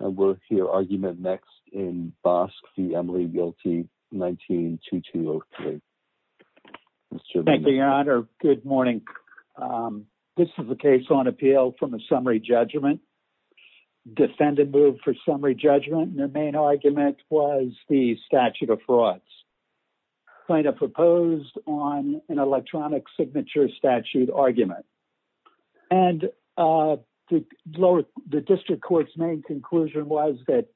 And we'll hear argument next in Bosque v. Emily Realty, 19-2203. Mr. Venditti. Thank you, Your Honor. Good morning. This is a case on appeal from a summary judgment. Defendant moved for summary judgment, and their main argument was the statute of frauds. Plaintiff proposed on an electronic signature statute argument. And the lower, the district court's main conclusion was that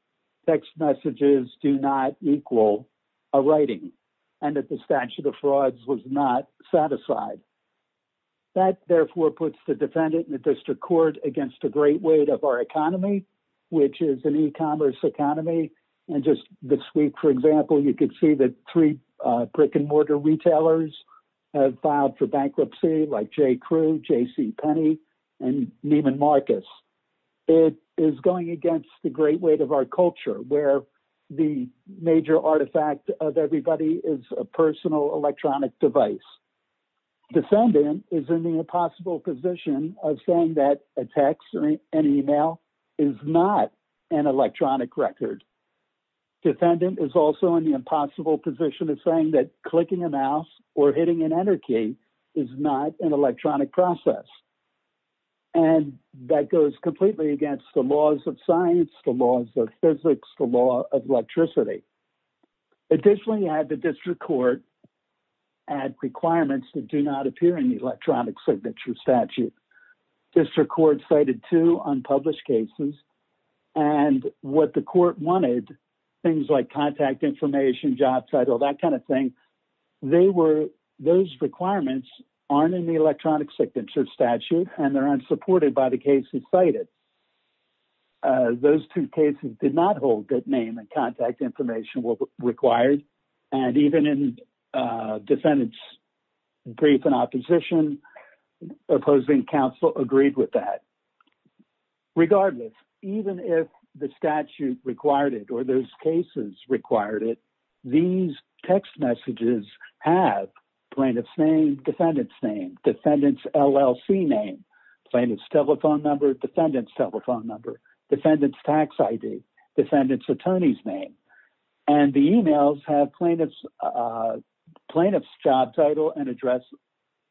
text messages do not equal a writing, and that the statute of frauds was not satisfied. That therefore puts the defendant in the district court against a great weight of our economy, which is an e-commerce economy. And just this week, for example, you could see that three brick and mortar retailers have filed for bankruptcy, like J. Crew, J.C. Penney, and Neiman Marcus. It is going against the great weight of our culture, where the major artifact of everybody is a personal electronic device. Defendant is in the impossible position of saying that a text, an email, is not an electronic record. Defendant is also in the impossible position of saying that clicking a mouse or hitting an enter key is not an electronic process. And that goes completely against the laws of science, the laws of physics, the law of electricity. Additionally, you have the district court add requirements that do not appear in the electronic signature statute. District court cited two unpublished cases, and what the court wanted, things like contact information, job title, that kind of thing, they were, those requirements aren't in the electronic signature statute, and they're unsupported by the cases cited. Those two cases did not hold good name and contact information required. And even in defendant's brief in opposition, opposing counsel agreed with that. Regardless, even if the statute required it, or those cases required it, these text messages have plaintiff's name, defendant's name, defendant's LLC name, plaintiff's telephone number, defendant's telephone number, defendant's tax ID, defendant's attorney's name. And the emails have plaintiff's job title and address,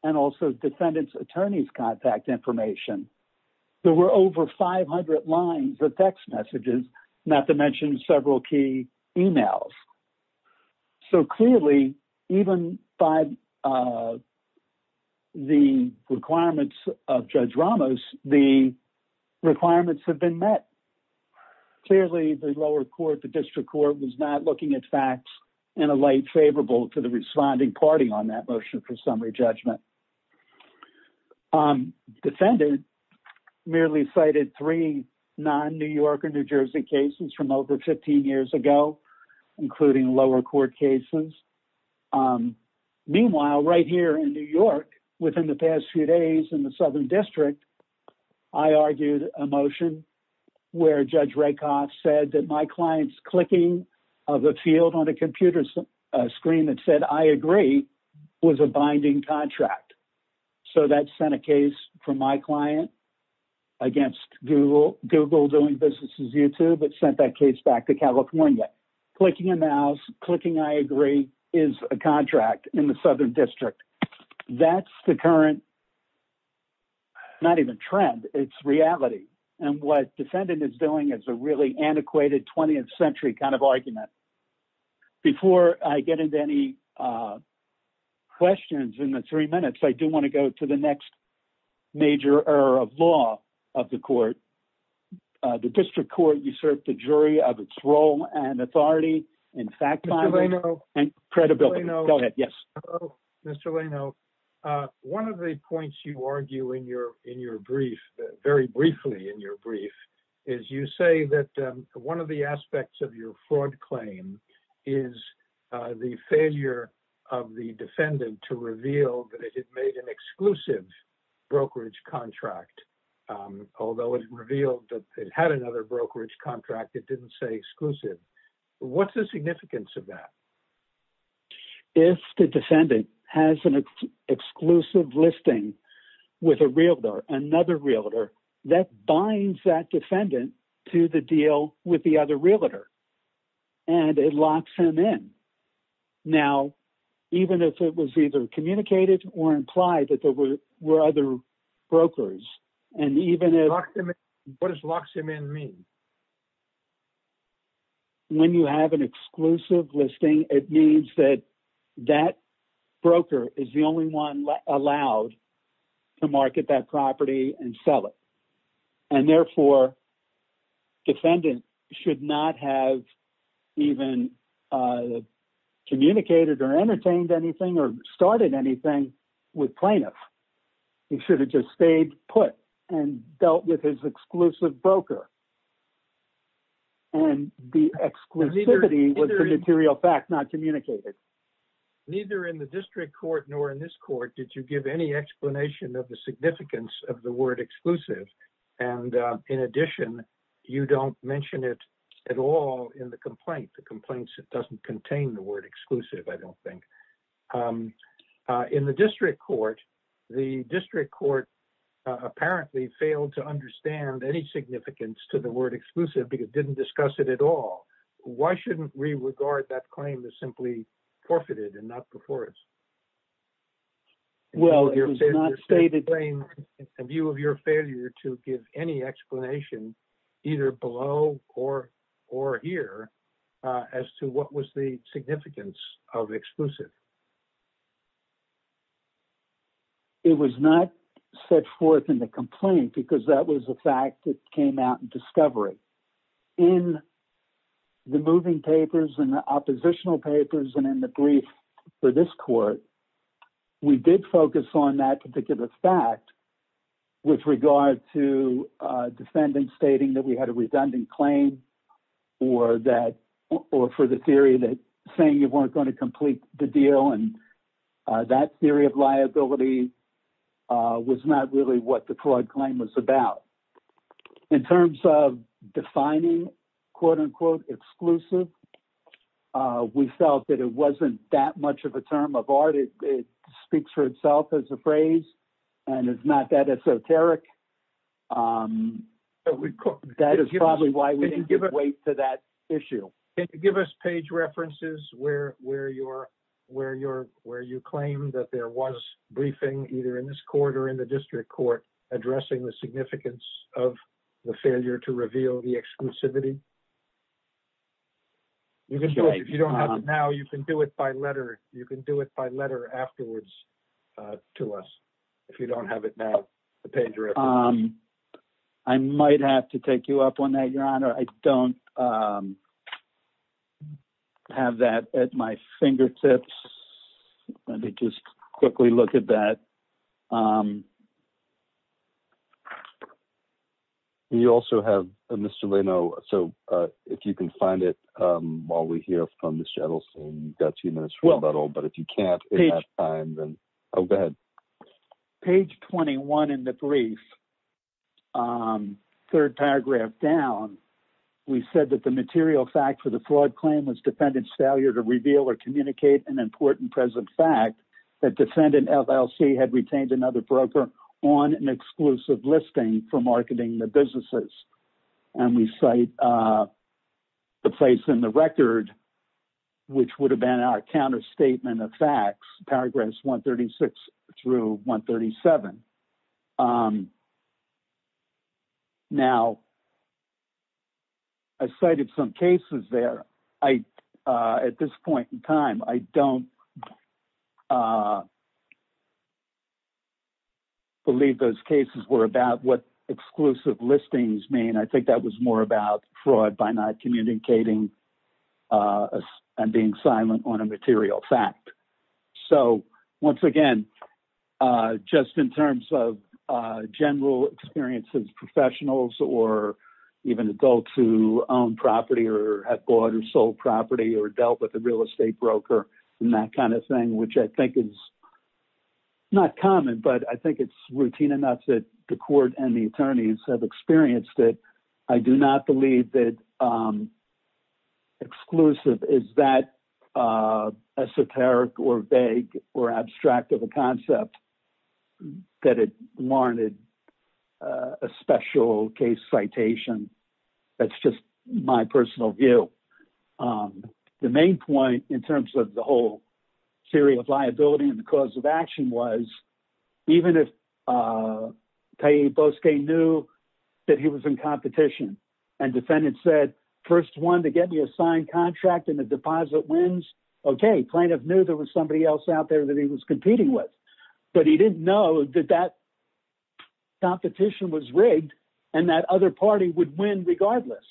and also defendant's attorney's contact information. There were over 500 lines of text messages, not to mention several key emails. So clearly, even by the requirements of Judge Ramos, the requirements have been met. Clearly, the lower court, the district court was not looking at facts in a light favorable to the responding party on that motion for summary judgment. Defendant merely cited three non-New York or New Jersey cases from over 15 years ago, including lower court cases. Meanwhile, right here in New York, within the past few days in the Southern District, I argued a motion where Judge Rakoff said that my client's clicking of a field on a computer screen that said, I agree, was a binding contract. So that sent a case from my client against Google doing business as YouTube. It sent that case back to California. Clicking a mouse, clicking I agree is a contract in the Southern District. That's the current, not even trend, it's reality. And what defendant is doing is a really antiquated 20th century kind of argument. Before I get into any questions in the three minutes, I do want to go to the next major error of law of the court. The district court usurped the jury of its role and authority in fact, credibility. Mr. Lano, one of the points you argue in your brief, very briefly in your brief, is you say that one of the aspects of your fraud claim is the failure of the defendant to reveal that it had made an exclusive brokerage contract. Although it revealed that it had another brokerage contract, it didn't say exclusive. What's the significance of that? If the defendant has an exclusive listing with a realtor, another realtor, that binds that defendant to the deal with the other realtor and it locks him in. Now, even if it was either communicated or implied that there were other brokers, and even if... What does locks him in mean? When you have an exclusive listing, it means that that broker is the only one allowed to market that property and sell it. Therefore, defendant should not have even communicated or entertained anything or started anything with plaintiff. He should have just stayed put and dealt with his exclusive broker. The exclusivity was the material fact, not communicated. Neither in the district court nor in this court did you give any explanation of the In addition, you don't mention it at all in the complaint. The complaint doesn't contain the word exclusive, I don't think. In the district court, the district court apparently failed to understand any significance to the word exclusive because it didn't discuss it at all. Why shouldn't we regard that claim as simply forfeited and not before us? Well, it was not stated... Can you explain a view of your failure to give any explanation, either below or here, as to what was the significance of exclusive? It was not set forth in the complaint because that was a fact that came out in discovery. In the moving papers and the oppositional papers and in the brief for this court, we did focus on that particular fact with regard to defendants stating that we had a redundant claim or for the theory that saying you weren't going to complete the deal and that theory of liability was not really what the fraud claim was about. In terms of defining quote-unquote exclusive, we felt that it wasn't that much of a term of speaks for itself as a phrase and it's not that esoteric. That is probably why we didn't give weight to that issue. Can you give us page references where you claim that there was briefing either in this court or in the district court addressing the significance of the failure to reveal the exclusivity? If you don't have it now, you can do it by letter. You can do it by letter afterwards to us, if you don't have it now, the page reference. I might have to take you up on that, Your Honor. I don't have that at my fingertips. Let me just quickly look at that. Page 21 in the brief, third paragraph down, we said that the material fact for the fraud claim was defendant's failure to reveal or communicate an important present fact that defendant LLC had on an exclusive listing for marketing the businesses. We cite the place in the record which would have been our counterstatement of facts, paragraphs 136 through 137. Now, I cited some cases there. At this point in time, I don't believe those cases were about what exclusive listings mean. I think that was more about fraud by not communicating and being silent on a material fact. Once again, just in terms of general experiences, professionals or even adults who own property or have bought or sold property or dealt with a real estate broker and that kind of thing, which I think is not common, but I think it's routine enough that the court and the attorneys have experienced it. I do not believe that exclusive is that esoteric or vague or concept that it warranted a special case citation. That's just my personal view. The main point in terms of the whole theory of liability and the cause of action was, even if Tyee Bosque knew that he was in competition and defendant said, first one to get me a signed contract and the deposit wins, okay, plaintiff knew there was out there that he was competing with, but he didn't know that that competition was rigged and that other party would win regardless.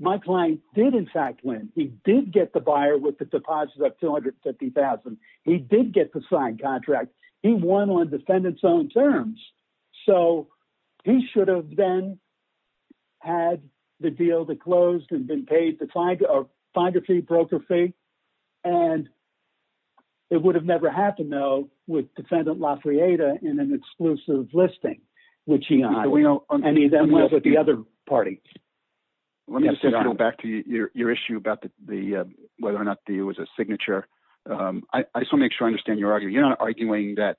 My client did, in fact, win. He did get the buyer with the deposit of $250,000. He did get the signed contract. He won on defendant's own terms. So, he should have then had the deal that closed and been paid the finder fee, broker fee, and it would have never happened, though, with defendant Lafrieda in an exclusive listing, which he had. And he then went with the other party. Let me just go back to your issue about whether or not it was a signature. I just want to make that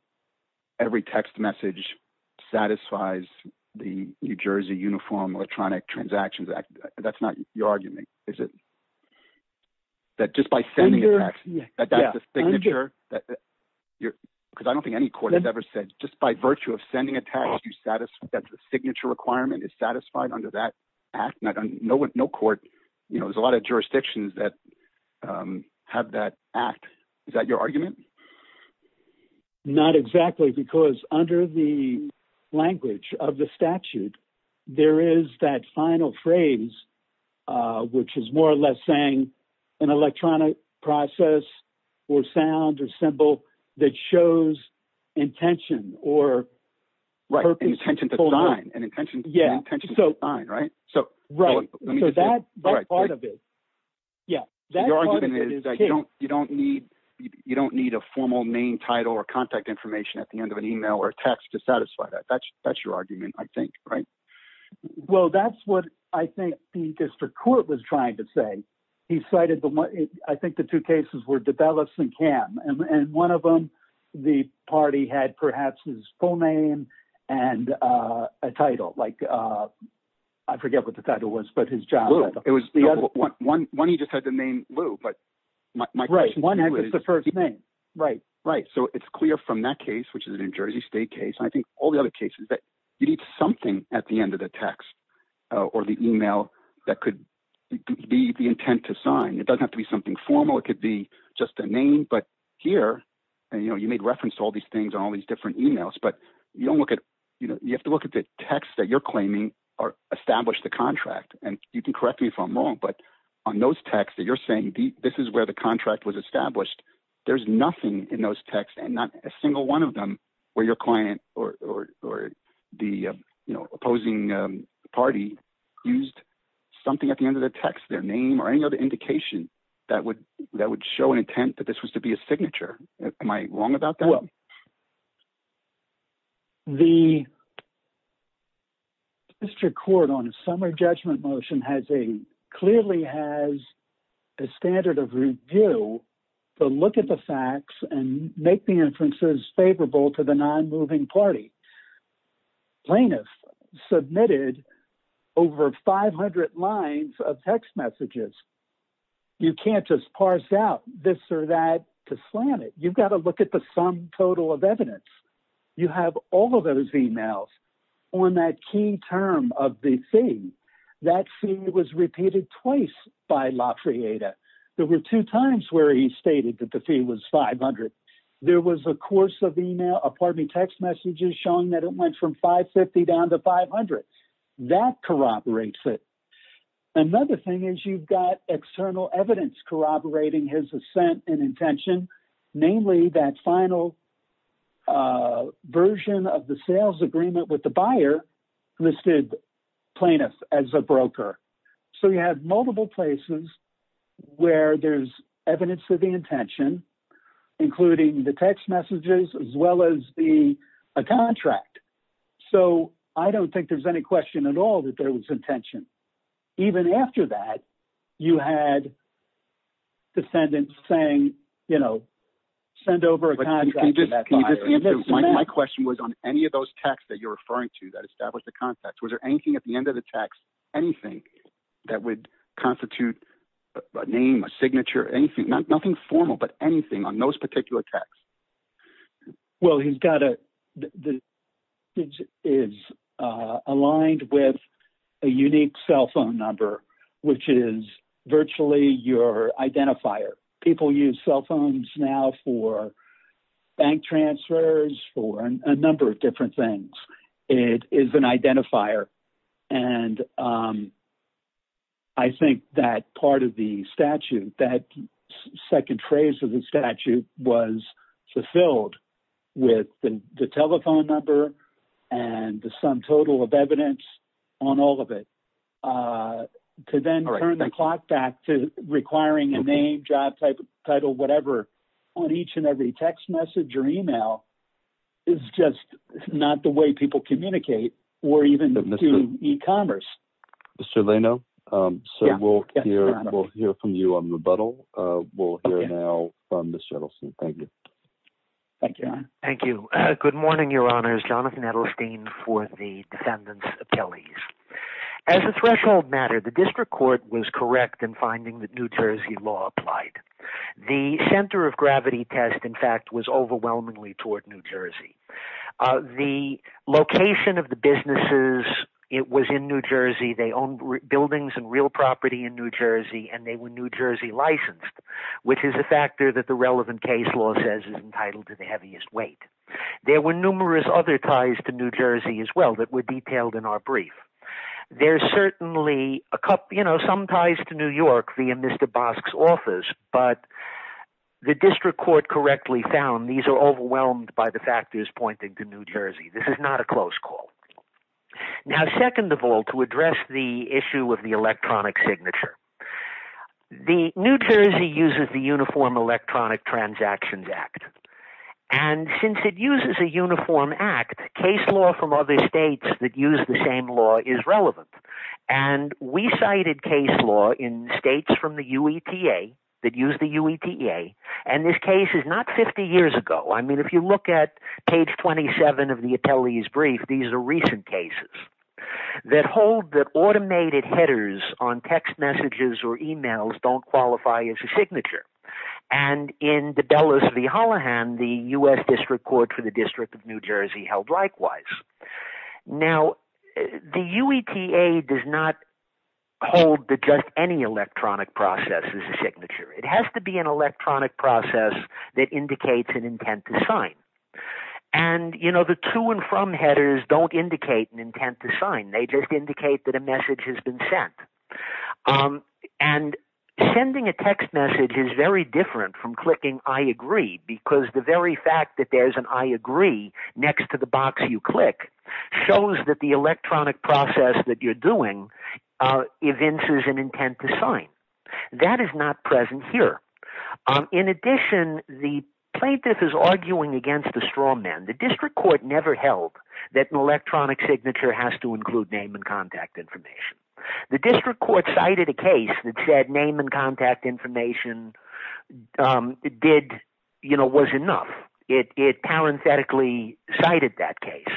every text message satisfies the New Jersey Uniform Electronic Transactions Act. That's not your argument, is it? That just by sending a tax, that that's a signature? Because I don't think any court has ever said, just by virtue of sending a tax, that the signature requirement is satisfied under that act? No court, there's a lot of Not exactly, because under the language of the statute, there is that final phrase, which is more or less saying an electronic process or sound or symbol that shows intention or Right, an intention to sign. An intention to sign, right? So, that part of it, yeah. Your argument is that you don't need a formal name, or contact information at the end of an email or text to satisfy that. That's your argument, I think, right? Well, that's what I think the district court was trying to say. I think the two cases were DeBellis and Cam. And one of them, the party had perhaps his full name and a title. I forget what the title was, but his job. One, he just had the name Lou, but my question is... So, it's clear from that case, which is a New Jersey State case, and I think all the other cases that you need something at the end of the text or the email that could be the intent to sign. It doesn't have to be something formal, it could be just a name. But here, and you made reference to all these things on all these different emails, but you have to look at the text that you're claiming or establish the contract. And you can correct me if I'm wrong, but on those texts that you're saying, this is where the contract was established. There's nothing in those texts and not a single one of them where your client or the opposing party used something at the end of the text, their name or any other indication that would show an intent that this was to be a signature. Am I wrong about that? Well, the district court on summer judgment motion clearly has a standard of review to look at the facts and make the inferences favorable to the non-moving party. Plaintiffs submitted over 500 lines of text messages. You can't just parse out this or that to slam it. You've got to look at the sum total of evidence. You have all of those emails on that key term of the fee. That fee was repeated twice by Lafayette. There were two times where he stated that the fee was 500. There was a course of email, pardon me, text messages showing that it went from 550 down to 500. That corroborates it. Another thing is you've got external evidence corroborating his final version of the sales agreement with the buyer listed plaintiff as a broker. You have multiple places where there's evidence of the intention, including the text messages as well as a contract. I don't think there's any question at all that there was intention. Even after that, you had descendants saying, you know, send over a contract. My question was on any of those texts that you're referring to that establish the context. Was there anything at the end of the text, anything that would constitute a name, a signature, anything, nothing formal, but anything on those particular texts? Well, he's got a, the signature is aligned with a unique cell phone number, which is virtually your identifier. People use cell phones now for bank transfers, for a number of different things. It is an identifier. I think that part of the statute, that second phrase of the statute was filled with the telephone number and the sum total of evidence on all of it. To then turn the clock back to requiring a name, job type, title, whatever on each and every text message or email is just not the way people communicate or even do e-commerce. Mr. Leno, so we'll hear from you on rebuttal. We'll hear now from Ms. Jettleson. Thank you. Thank you. Good morning, Your Honors. Jonathan Edelstein for the defendants' appellees. As a threshold matter, the district court was correct in finding that New Jersey law applied. The center of gravity test, in fact, was overwhelmingly toward New Jersey. The location of the businesses, it was in New Jersey. They owned buildings and real property in New Jersey, and they were New Jersey licensed, which is a factor that the relevant case law says is entitled to the heaviest weight. There were numerous other ties to New Jersey as well that were detailed in our brief. There's certainly some ties to New York via Mr. Bosk's office, but the district court correctly found these are overwhelmed by the factors pointing to New Jersey. This is not a close call. Now, second of all, to address the issue of the electronic signature, the New Jersey uses the Uniform Electronic Transactions Act. Since it uses a uniform act, case law from other states that use the same law is relevant. We cited case law in states from the UETA that use the UETA. This case is not 50 years ago. If you look at page 27 of the appellee's that hold that automated headers on text messages or emails don't qualify as a signature. In the Dulles v. Hollihan, the U.S. District Court for the District of New Jersey held likewise. Now, the UETA does not hold that just any electronic process is a signature. It has to be an electronic process that indicates an intent to sign. The to and from headers don't indicate an intent to sign. They just indicate that a message has been sent. Sending a text message is very different from clicking I agree because the very fact that there's an I agree next to the box you click shows that the electronic process that you're doing evinces an intent to sign. That is not present here. In addition, the plaintiff is arguing against the straw men. The District Court never held that an electronic signature has to include name and contact information. The District Court cited a case that said name and contact information was enough. It parenthetically cited that case,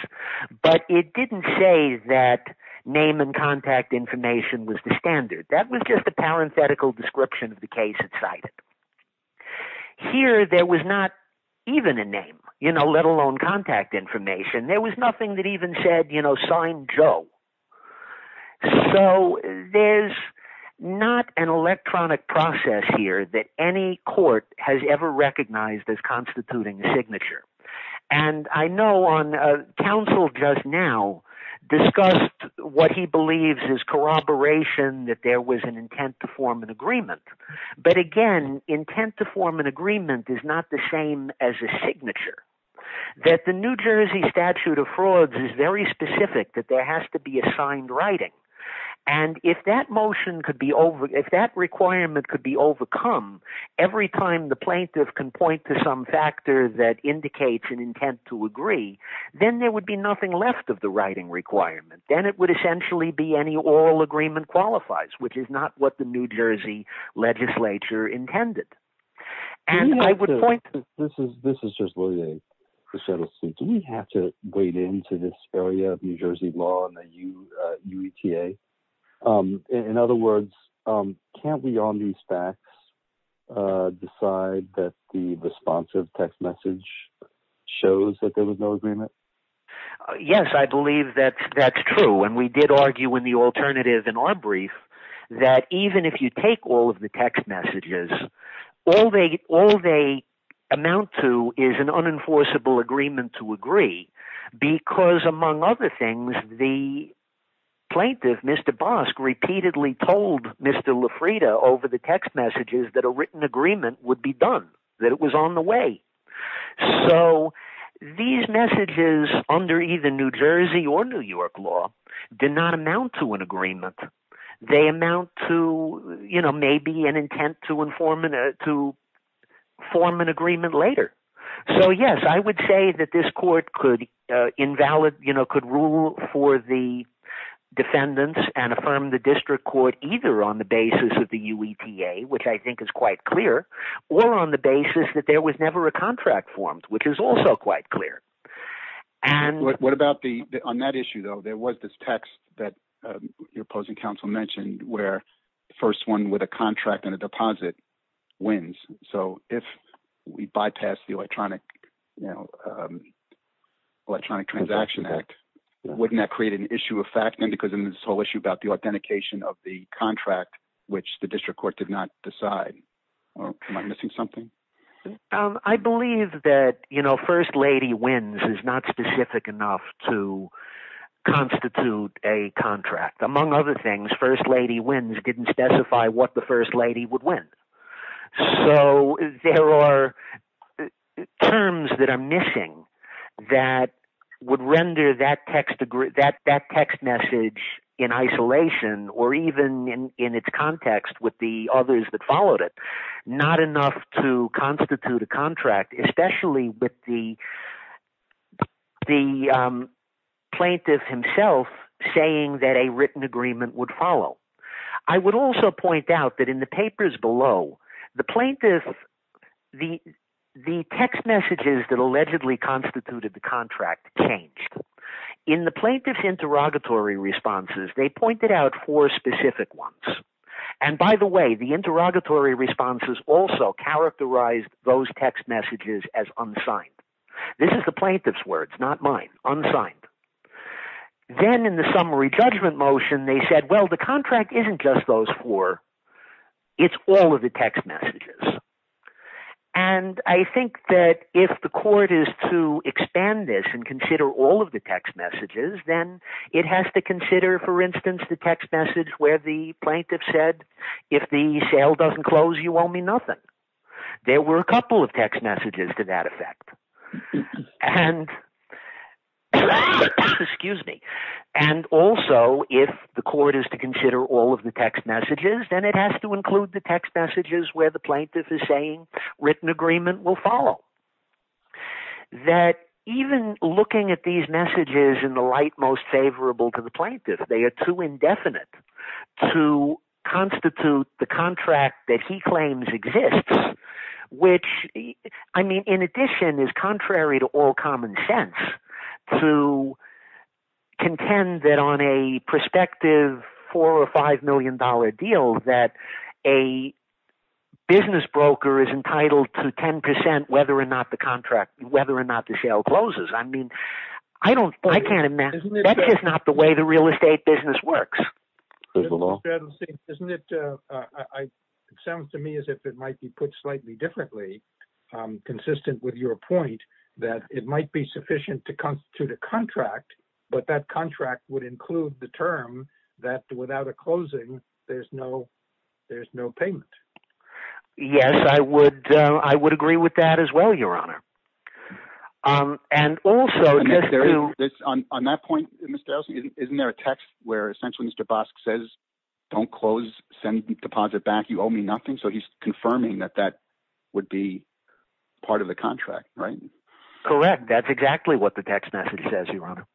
but it didn't say that name and contact information was the standard. That was just a parenthetical description of the case it cited. Here, there was not even a name, let alone contact information. There was nothing that even said, you know, sign Joe. There's not an electronic process here that any court has ever recognized as constituting a signature. I know on counsel just now discussed what he believes is corroboration that there was an intent to form an agreement. Again, intent to form an agreement is not the same as a signature. The New Jersey statute of frauds is very specific that there has to be assigned writing. If that requirement could be overcome, every time the plaintiff can point to some factor that indicates an intent to agree, then there would be nothing left of the writing requirement. Then, it would essentially be any oral agreement qualifies, which is not what the New Jersey legislature intended. Do we have to wade into this area of New Jersey law and the UETA? In other words, can't we on these facts decide that the responsive text message shows that there was no agreement? Yes, I believe that that's true. We did argue in the alternative in our brief that even if you take all of the text messages, all they amount to is an unenforceable agreement to agree because, among other things, the plaintiff, Mr. Bosk, repeatedly told Mr. Lafrida over the text messages that a written agreement would be done, that it was on So, these messages under either New Jersey or New York law did not amount to an agreement. They amount to maybe an intent to form an agreement later. So, yes, I would say that this court could rule for the defendants and affirm the district court either on the basis that there was never a contract formed, which is also quite clear. On that issue, though, there was this text that your opposing counsel mentioned where first one with a contract and a deposit wins. So, if we bypass the Electronic Transaction Act, wouldn't that create an issue of fact then because of this whole issue about the authentication of the contract, which the district court did not decide? Am I missing something? I believe that first lady wins is not specific enough to constitute a contract. Among other things, first lady wins didn't specify what the first lady would win. So, there are terms that are missing that would render that text message in isolation or even in its context with the plaintiff himself saying that a written agreement would follow. I would also point out that in the papers below, the text messages that allegedly constituted the contract changed. In the plaintiff's interrogatory responses, they pointed out four specific ones. By the way, the interrogatory responses also characterized those text messages as unsigned. This is the plaintiff's words, not mine, unsigned. Then, in the summary judgment motion, they said, well, the contract isn't just those four. It's all of the text messages. I think that if the court is to expand this and consider all of the text messages, then it has to consider, for instance, the text message where the plaintiff said, if the sale doesn't close, you owe me nothing. There were a couple of text messages to that effect. Also, if the court is to consider all of the text messages, then it has to include the text messages where the plaintiff is saying written agreement will follow. Even looking at these constitute the contract that he claims exists, which, in addition, is contrary to all common sense to contend that on a prospective $4 or $5 million deal that a business broker is entitled to 10% whether or not the contract, whether or not the sale closes. That's just not the way the It sounds to me as if it might be put slightly differently, consistent with your point that it might be sufficient to constitute a contract, but that contract would include the term that without a closing, there's no payment. Yes, I would agree with that as well, Your Honor. On that point, Mr. Elsey, isn't there a text where essentially Mr. Bosk says, don't close, send deposit back, you owe me nothing? So he's confirming that that would be part of the contract, right? Correct. That's exactly what the text message says, Your Honor.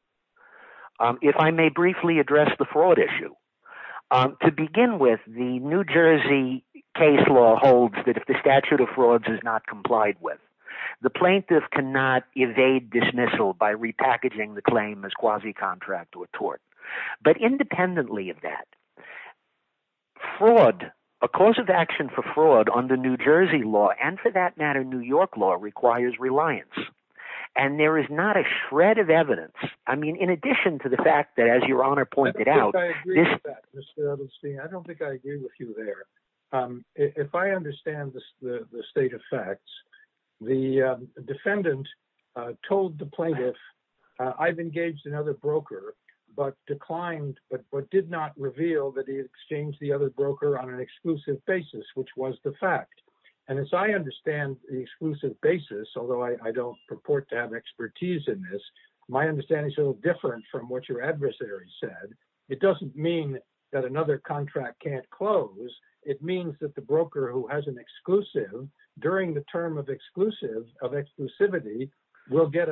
If I may briefly address the fraud issue. To begin with, the New Jersey case law holds that the statute of frauds is not complied with. The plaintiff cannot evade dismissal by repackaging the claim as quasi-contract or tort. But independently of that, a cause of action for fraud under New Jersey law, and for that matter, New York law, requires reliance, and there is not a shred of evidence. I mean, in addition to the fact that, as Your Honor pointed out... I don't think I agree with you there. If I understand the state of facts, the defendant told the plaintiff, I've engaged another broker, but declined, but did not reveal that he exchanged the other broker on an exclusive basis, which was the fact. And as I understand the exclusive basis, although I don't purport to have expertise in this, my understanding is a little different from what your adversary said. It doesn't mean that another contract can't close. It means that the broker who has an exclusive, during the term of exclusivity, will get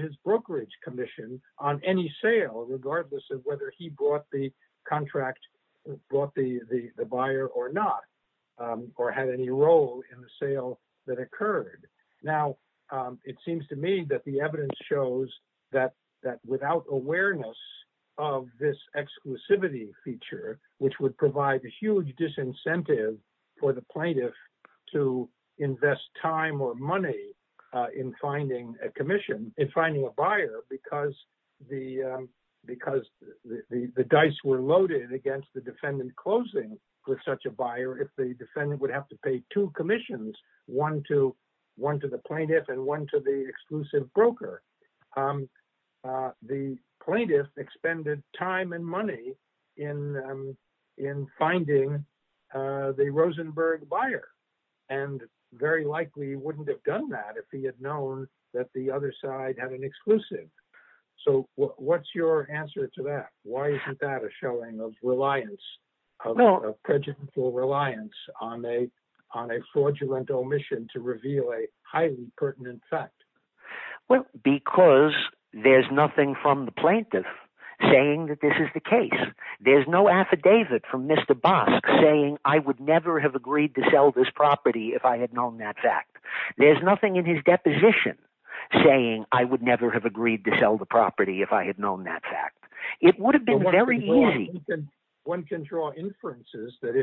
his brokerage commission on any sale, regardless of whether he bought the contract, bought the buyer or not, or had any role in the sale that occurred. Now, it seems to me that the evidence shows that without awareness of this exclusivity feature, which would provide a huge disincentive for the plaintiff to invest time or money in finding a buyer, because the dice were loaded against the defendant closing with such a buyer, if the defendant would have to pay two commissions, one to the plaintiff and one to the exclusive broker. The plaintiff expended time and money in finding the Rosenberg buyer, and very likely wouldn't have done that if he had known that the other side had an exclusive. So, what's your answer to that? Why is that a showing of prejudicial reliance on a fraudulent omission to reveal a highly pertinent fact? Well, because there's nothing from the plaintiff saying that this is the case. There's no affidavit from Mr. Bosk saying, I would never have agreed to sell this property if I had known that fact. There's nothing in his deposition saying, I would never have agreed to sell the property if I had known that fact. It would have been very easy. One can draw inferences that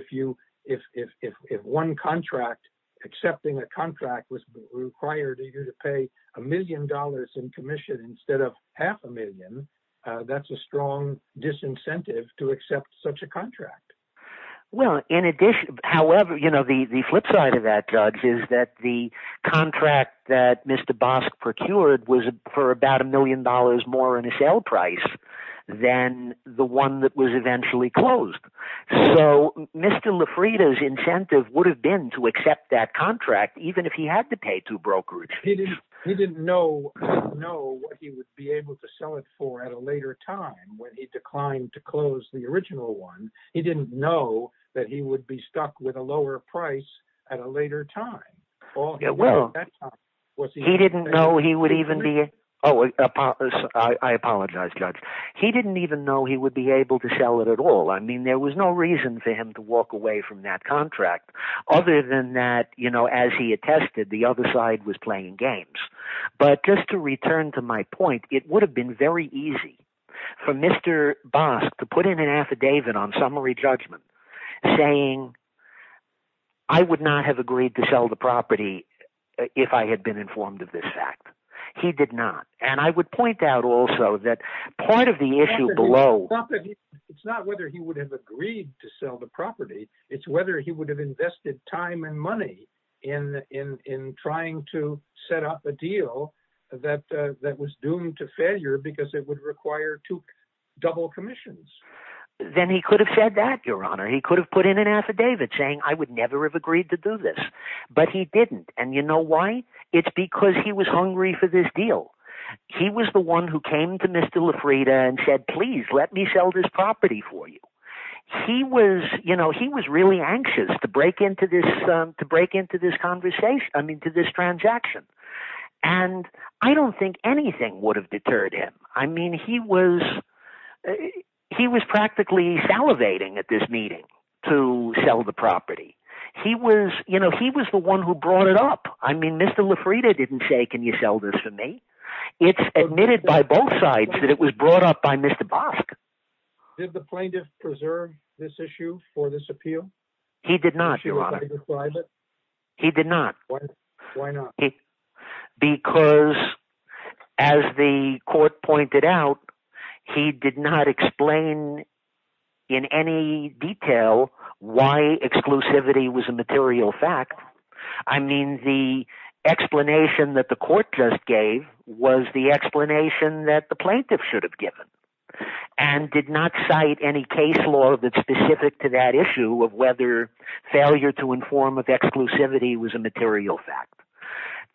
if one contract, accepting a contract was required to pay a million dollars in commission instead of half a million, that's a strong disincentive to accept such a contract. Well, in addition, however, the flip side of that, Doug, is that the contract that Mr. Bosk procured was for about a million dollars more in a sale price than the one that was eventually closed. So, Mr. Lafrida's incentive would have been to accept that contract even if he had to pay two brokerages. He didn't know what he would be able to sell it for at a later time when he closed the original one. He didn't know that he would be stuck with a lower price at a later time. He didn't even know he would be able to sell it at all. I mean, there was no reason for him to walk away from that contract. Other than that, as he attested, the other side was playing games. But just to return to my point, it would have been very easy for Mr. Bosk to put in an affidavit on summary judgment saying, I would not have agreed to sell the property if I had been informed of this fact. He did not. And I would point out also that part of the issue below... It's not whether he would have agreed to sell the property. It's whether he would have invested time and money in trying to set up a deal that was doomed to failure because it would require double commissions. Then he could have said that, Your Honor. He could have put in an affidavit saying, I would never have agreed to do this. But he didn't. And you know why? It's because he was hungry for this deal. He was the one who came to Mr. Lafrida and said, please let me sell this break into this conversation. I mean, to this transaction. And I don't think anything would have deterred him. I mean, he was practically salivating at this meeting to sell the property. He was, you know, he was the one who brought it up. I mean, Mr. Lafrida didn't say, can you sell this to me? It's admitted by both sides that it was brought up by Mr. Bosk. Did the plaintiff preserve this issue for this appeal? He did not. He did not. Why not? Because as the court pointed out, he did not explain in any detail why exclusivity was a material fact. I mean, the explanation that the court just gave was the explanation that the plaintiff should have given and did not cite any case law that's specific to that issue of whether failure to inform of exclusivity was a material fact.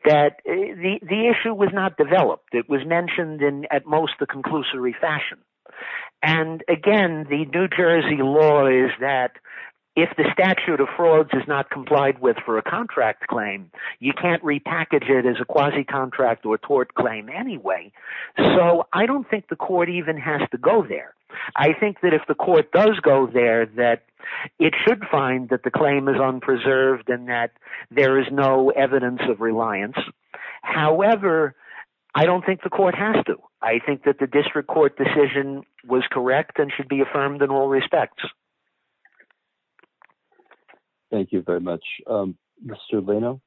That the issue was not developed. It was mentioned in at most the conclusory fashion. And again, the New Jersey law is that if the statute of frauds is not complied with for a contract claim, you can't repackage it as a quasi contract or tort claim anyway. So I don't think the court even has to go there. I think that if the court does go there, that it should find that the claim is unpreserved and that there is no evidence of reliance. However, I don't think the court has to. I think that the district court decision was correct and should be affirmed in all respects. Thank you very much, Mr. Leno.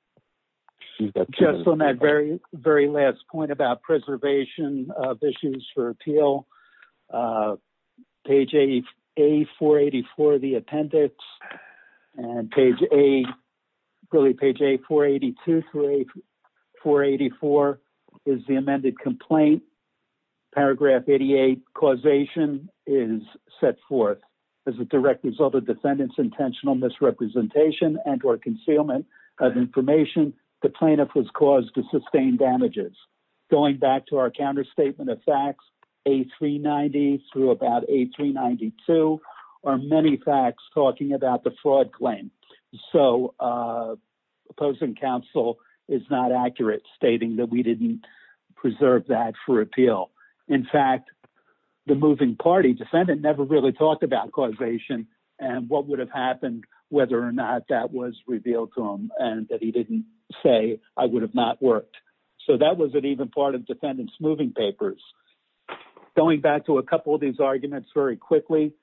Just on that very last point about preservation of issues for appeal, page A484, the appendix and page A482 through A484 is the amended complaint. Paragraph 88, causation is set forth as a direct result of defendant's intentional misrepresentation and or concealment of information the plaintiff was caused to sustain damages. Going back to our counterstatement of facts, A390 through about A392 are many facts talking about the fraud claim. So opposing counsel is not accurate stating that we didn't preserve that for appeal. In fact, the moving party defendant never really talked about causation and what would have happened whether or not that was revealed to him and that he didn't say I would have not worked. So that wasn't even part of defendant's moving papers. Going back to a couple of these arguments very quickly,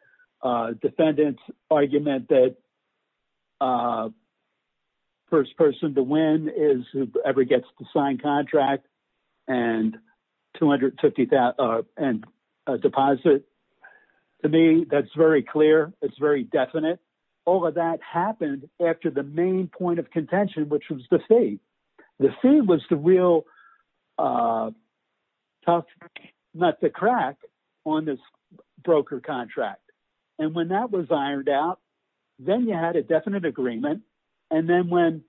defendant's argument that the first person to win is whoever gets the signed contract and deposit, to me that's very clear, it's very definite. All of that happened after the main point of contention, which was the fee. The fee was the real tough nut to crack on this broker contract. And when that was ironed out, then you had a definite agreement. And then when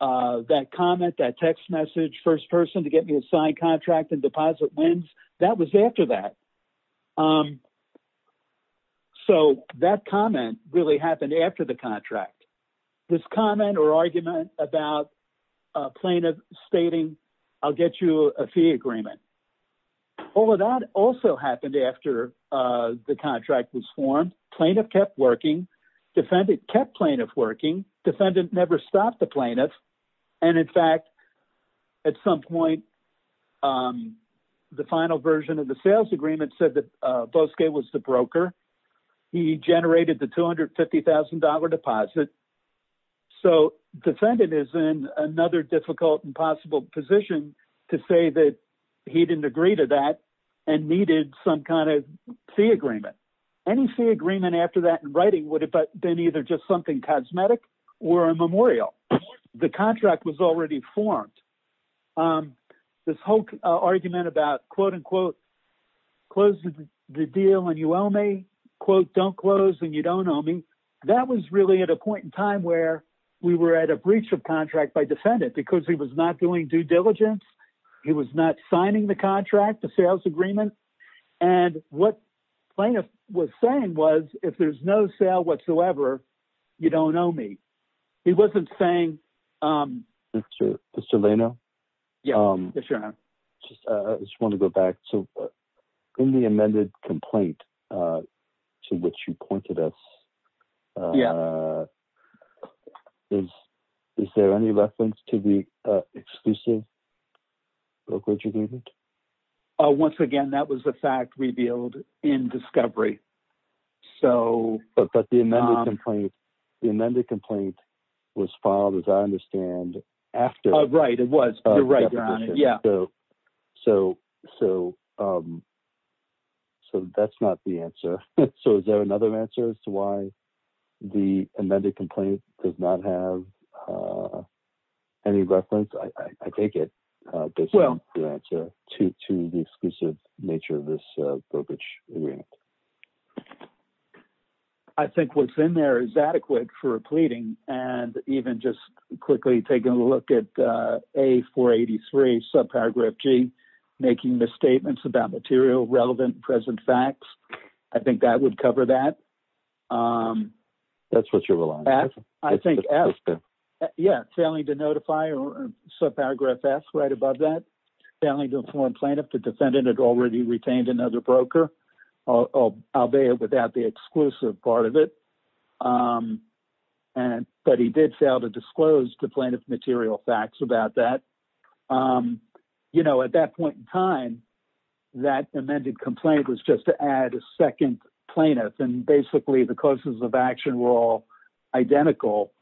that comment, that text message, first person to get me a signed contract and deposit wins, that was after that. So that comment really happened after the contract. This comment or argument about plaintiff stating I'll get you a fee agreement. All of that also happened after the contract was formed. Plaintiff kept working. Defendant kept plaintiff working. Defendant never stopped the plaintiff. And in fact, at some point, the final version of the sales agreement said that Bosque was the broker. He generated the $250,000 deposit. So defendant is in another difficult and possible position to say that he didn't agree to that and needed some kind of fee agreement. Any fee agreement after that in writing would have been either just something cosmetic or a memorial. The contract was already formed. This whole argument about, quote, unquote, close the deal and you owe me, quote, don't close and you don't owe me. That was really at a point in time where we were at a breach of contract by defendant because he was not doing due diligence. He was not signing the contract, the sales agreement. And what plaintiff was saying was if there's no sale whatsoever, you don't owe me. He wasn't saying. Mr. Lano. Yes, your honor. I just want to go back. So in the amended complaint to which you pointed us, yeah. Is there any reference to the exclusive brokerage agreement? Once again, that was the fact revealed in discovery. So. But the amended complaint was filed, as I understand, after. Right. It was. You're right, your honor. Yeah. So so. So that's not the answer. So is there another answer as to why the amended complaint does not have any reference? I take it. Well, the answer to to the exclusive nature of this brokerage agreement. I think what's in there is adequate for a pleading and even just quickly taking a look at a 483 subparagraph G making misstatements about material relevant present facts. I think that would cover that. That's what you're relying on. I think. Yeah. Failing to notify or subparagraph that's right above that. Failing to inform plaintiff the defendant had already retained another broker of Alvea without the exclusive part of it. And but he did fail to disclose the plaintiff material facts about that. You know, at that point in time, that amended complaint was just to add a second plaintiff. And basically, the causes of action were all identical.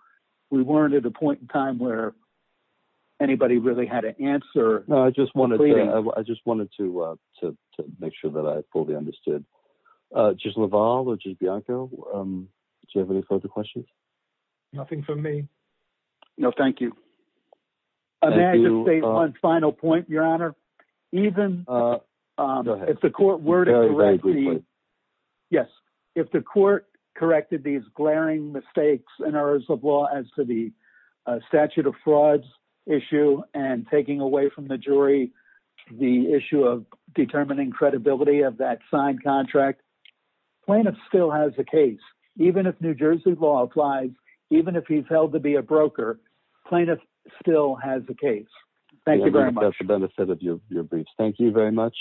We weren't at a point in time where anybody really had to answer. No, I just want to. I just wanted to to make sure that I fully understood just Laval or just Bianco. Do you have any further questions? Nothing for me. No, thank you. I'm going to say one final point, Your Honor. Even if the court were to. Yes, if the court corrected these glaring mistakes and errors of law as to the statute of frauds issue and taking away from the jury the issue of determining credibility of that signed contract, plaintiff still has a case. Even if New Jersey law applies, even if he's held to be a broker, plaintiff still has a case. Thank you very much. That's the benefit of your briefs. Thank you very much.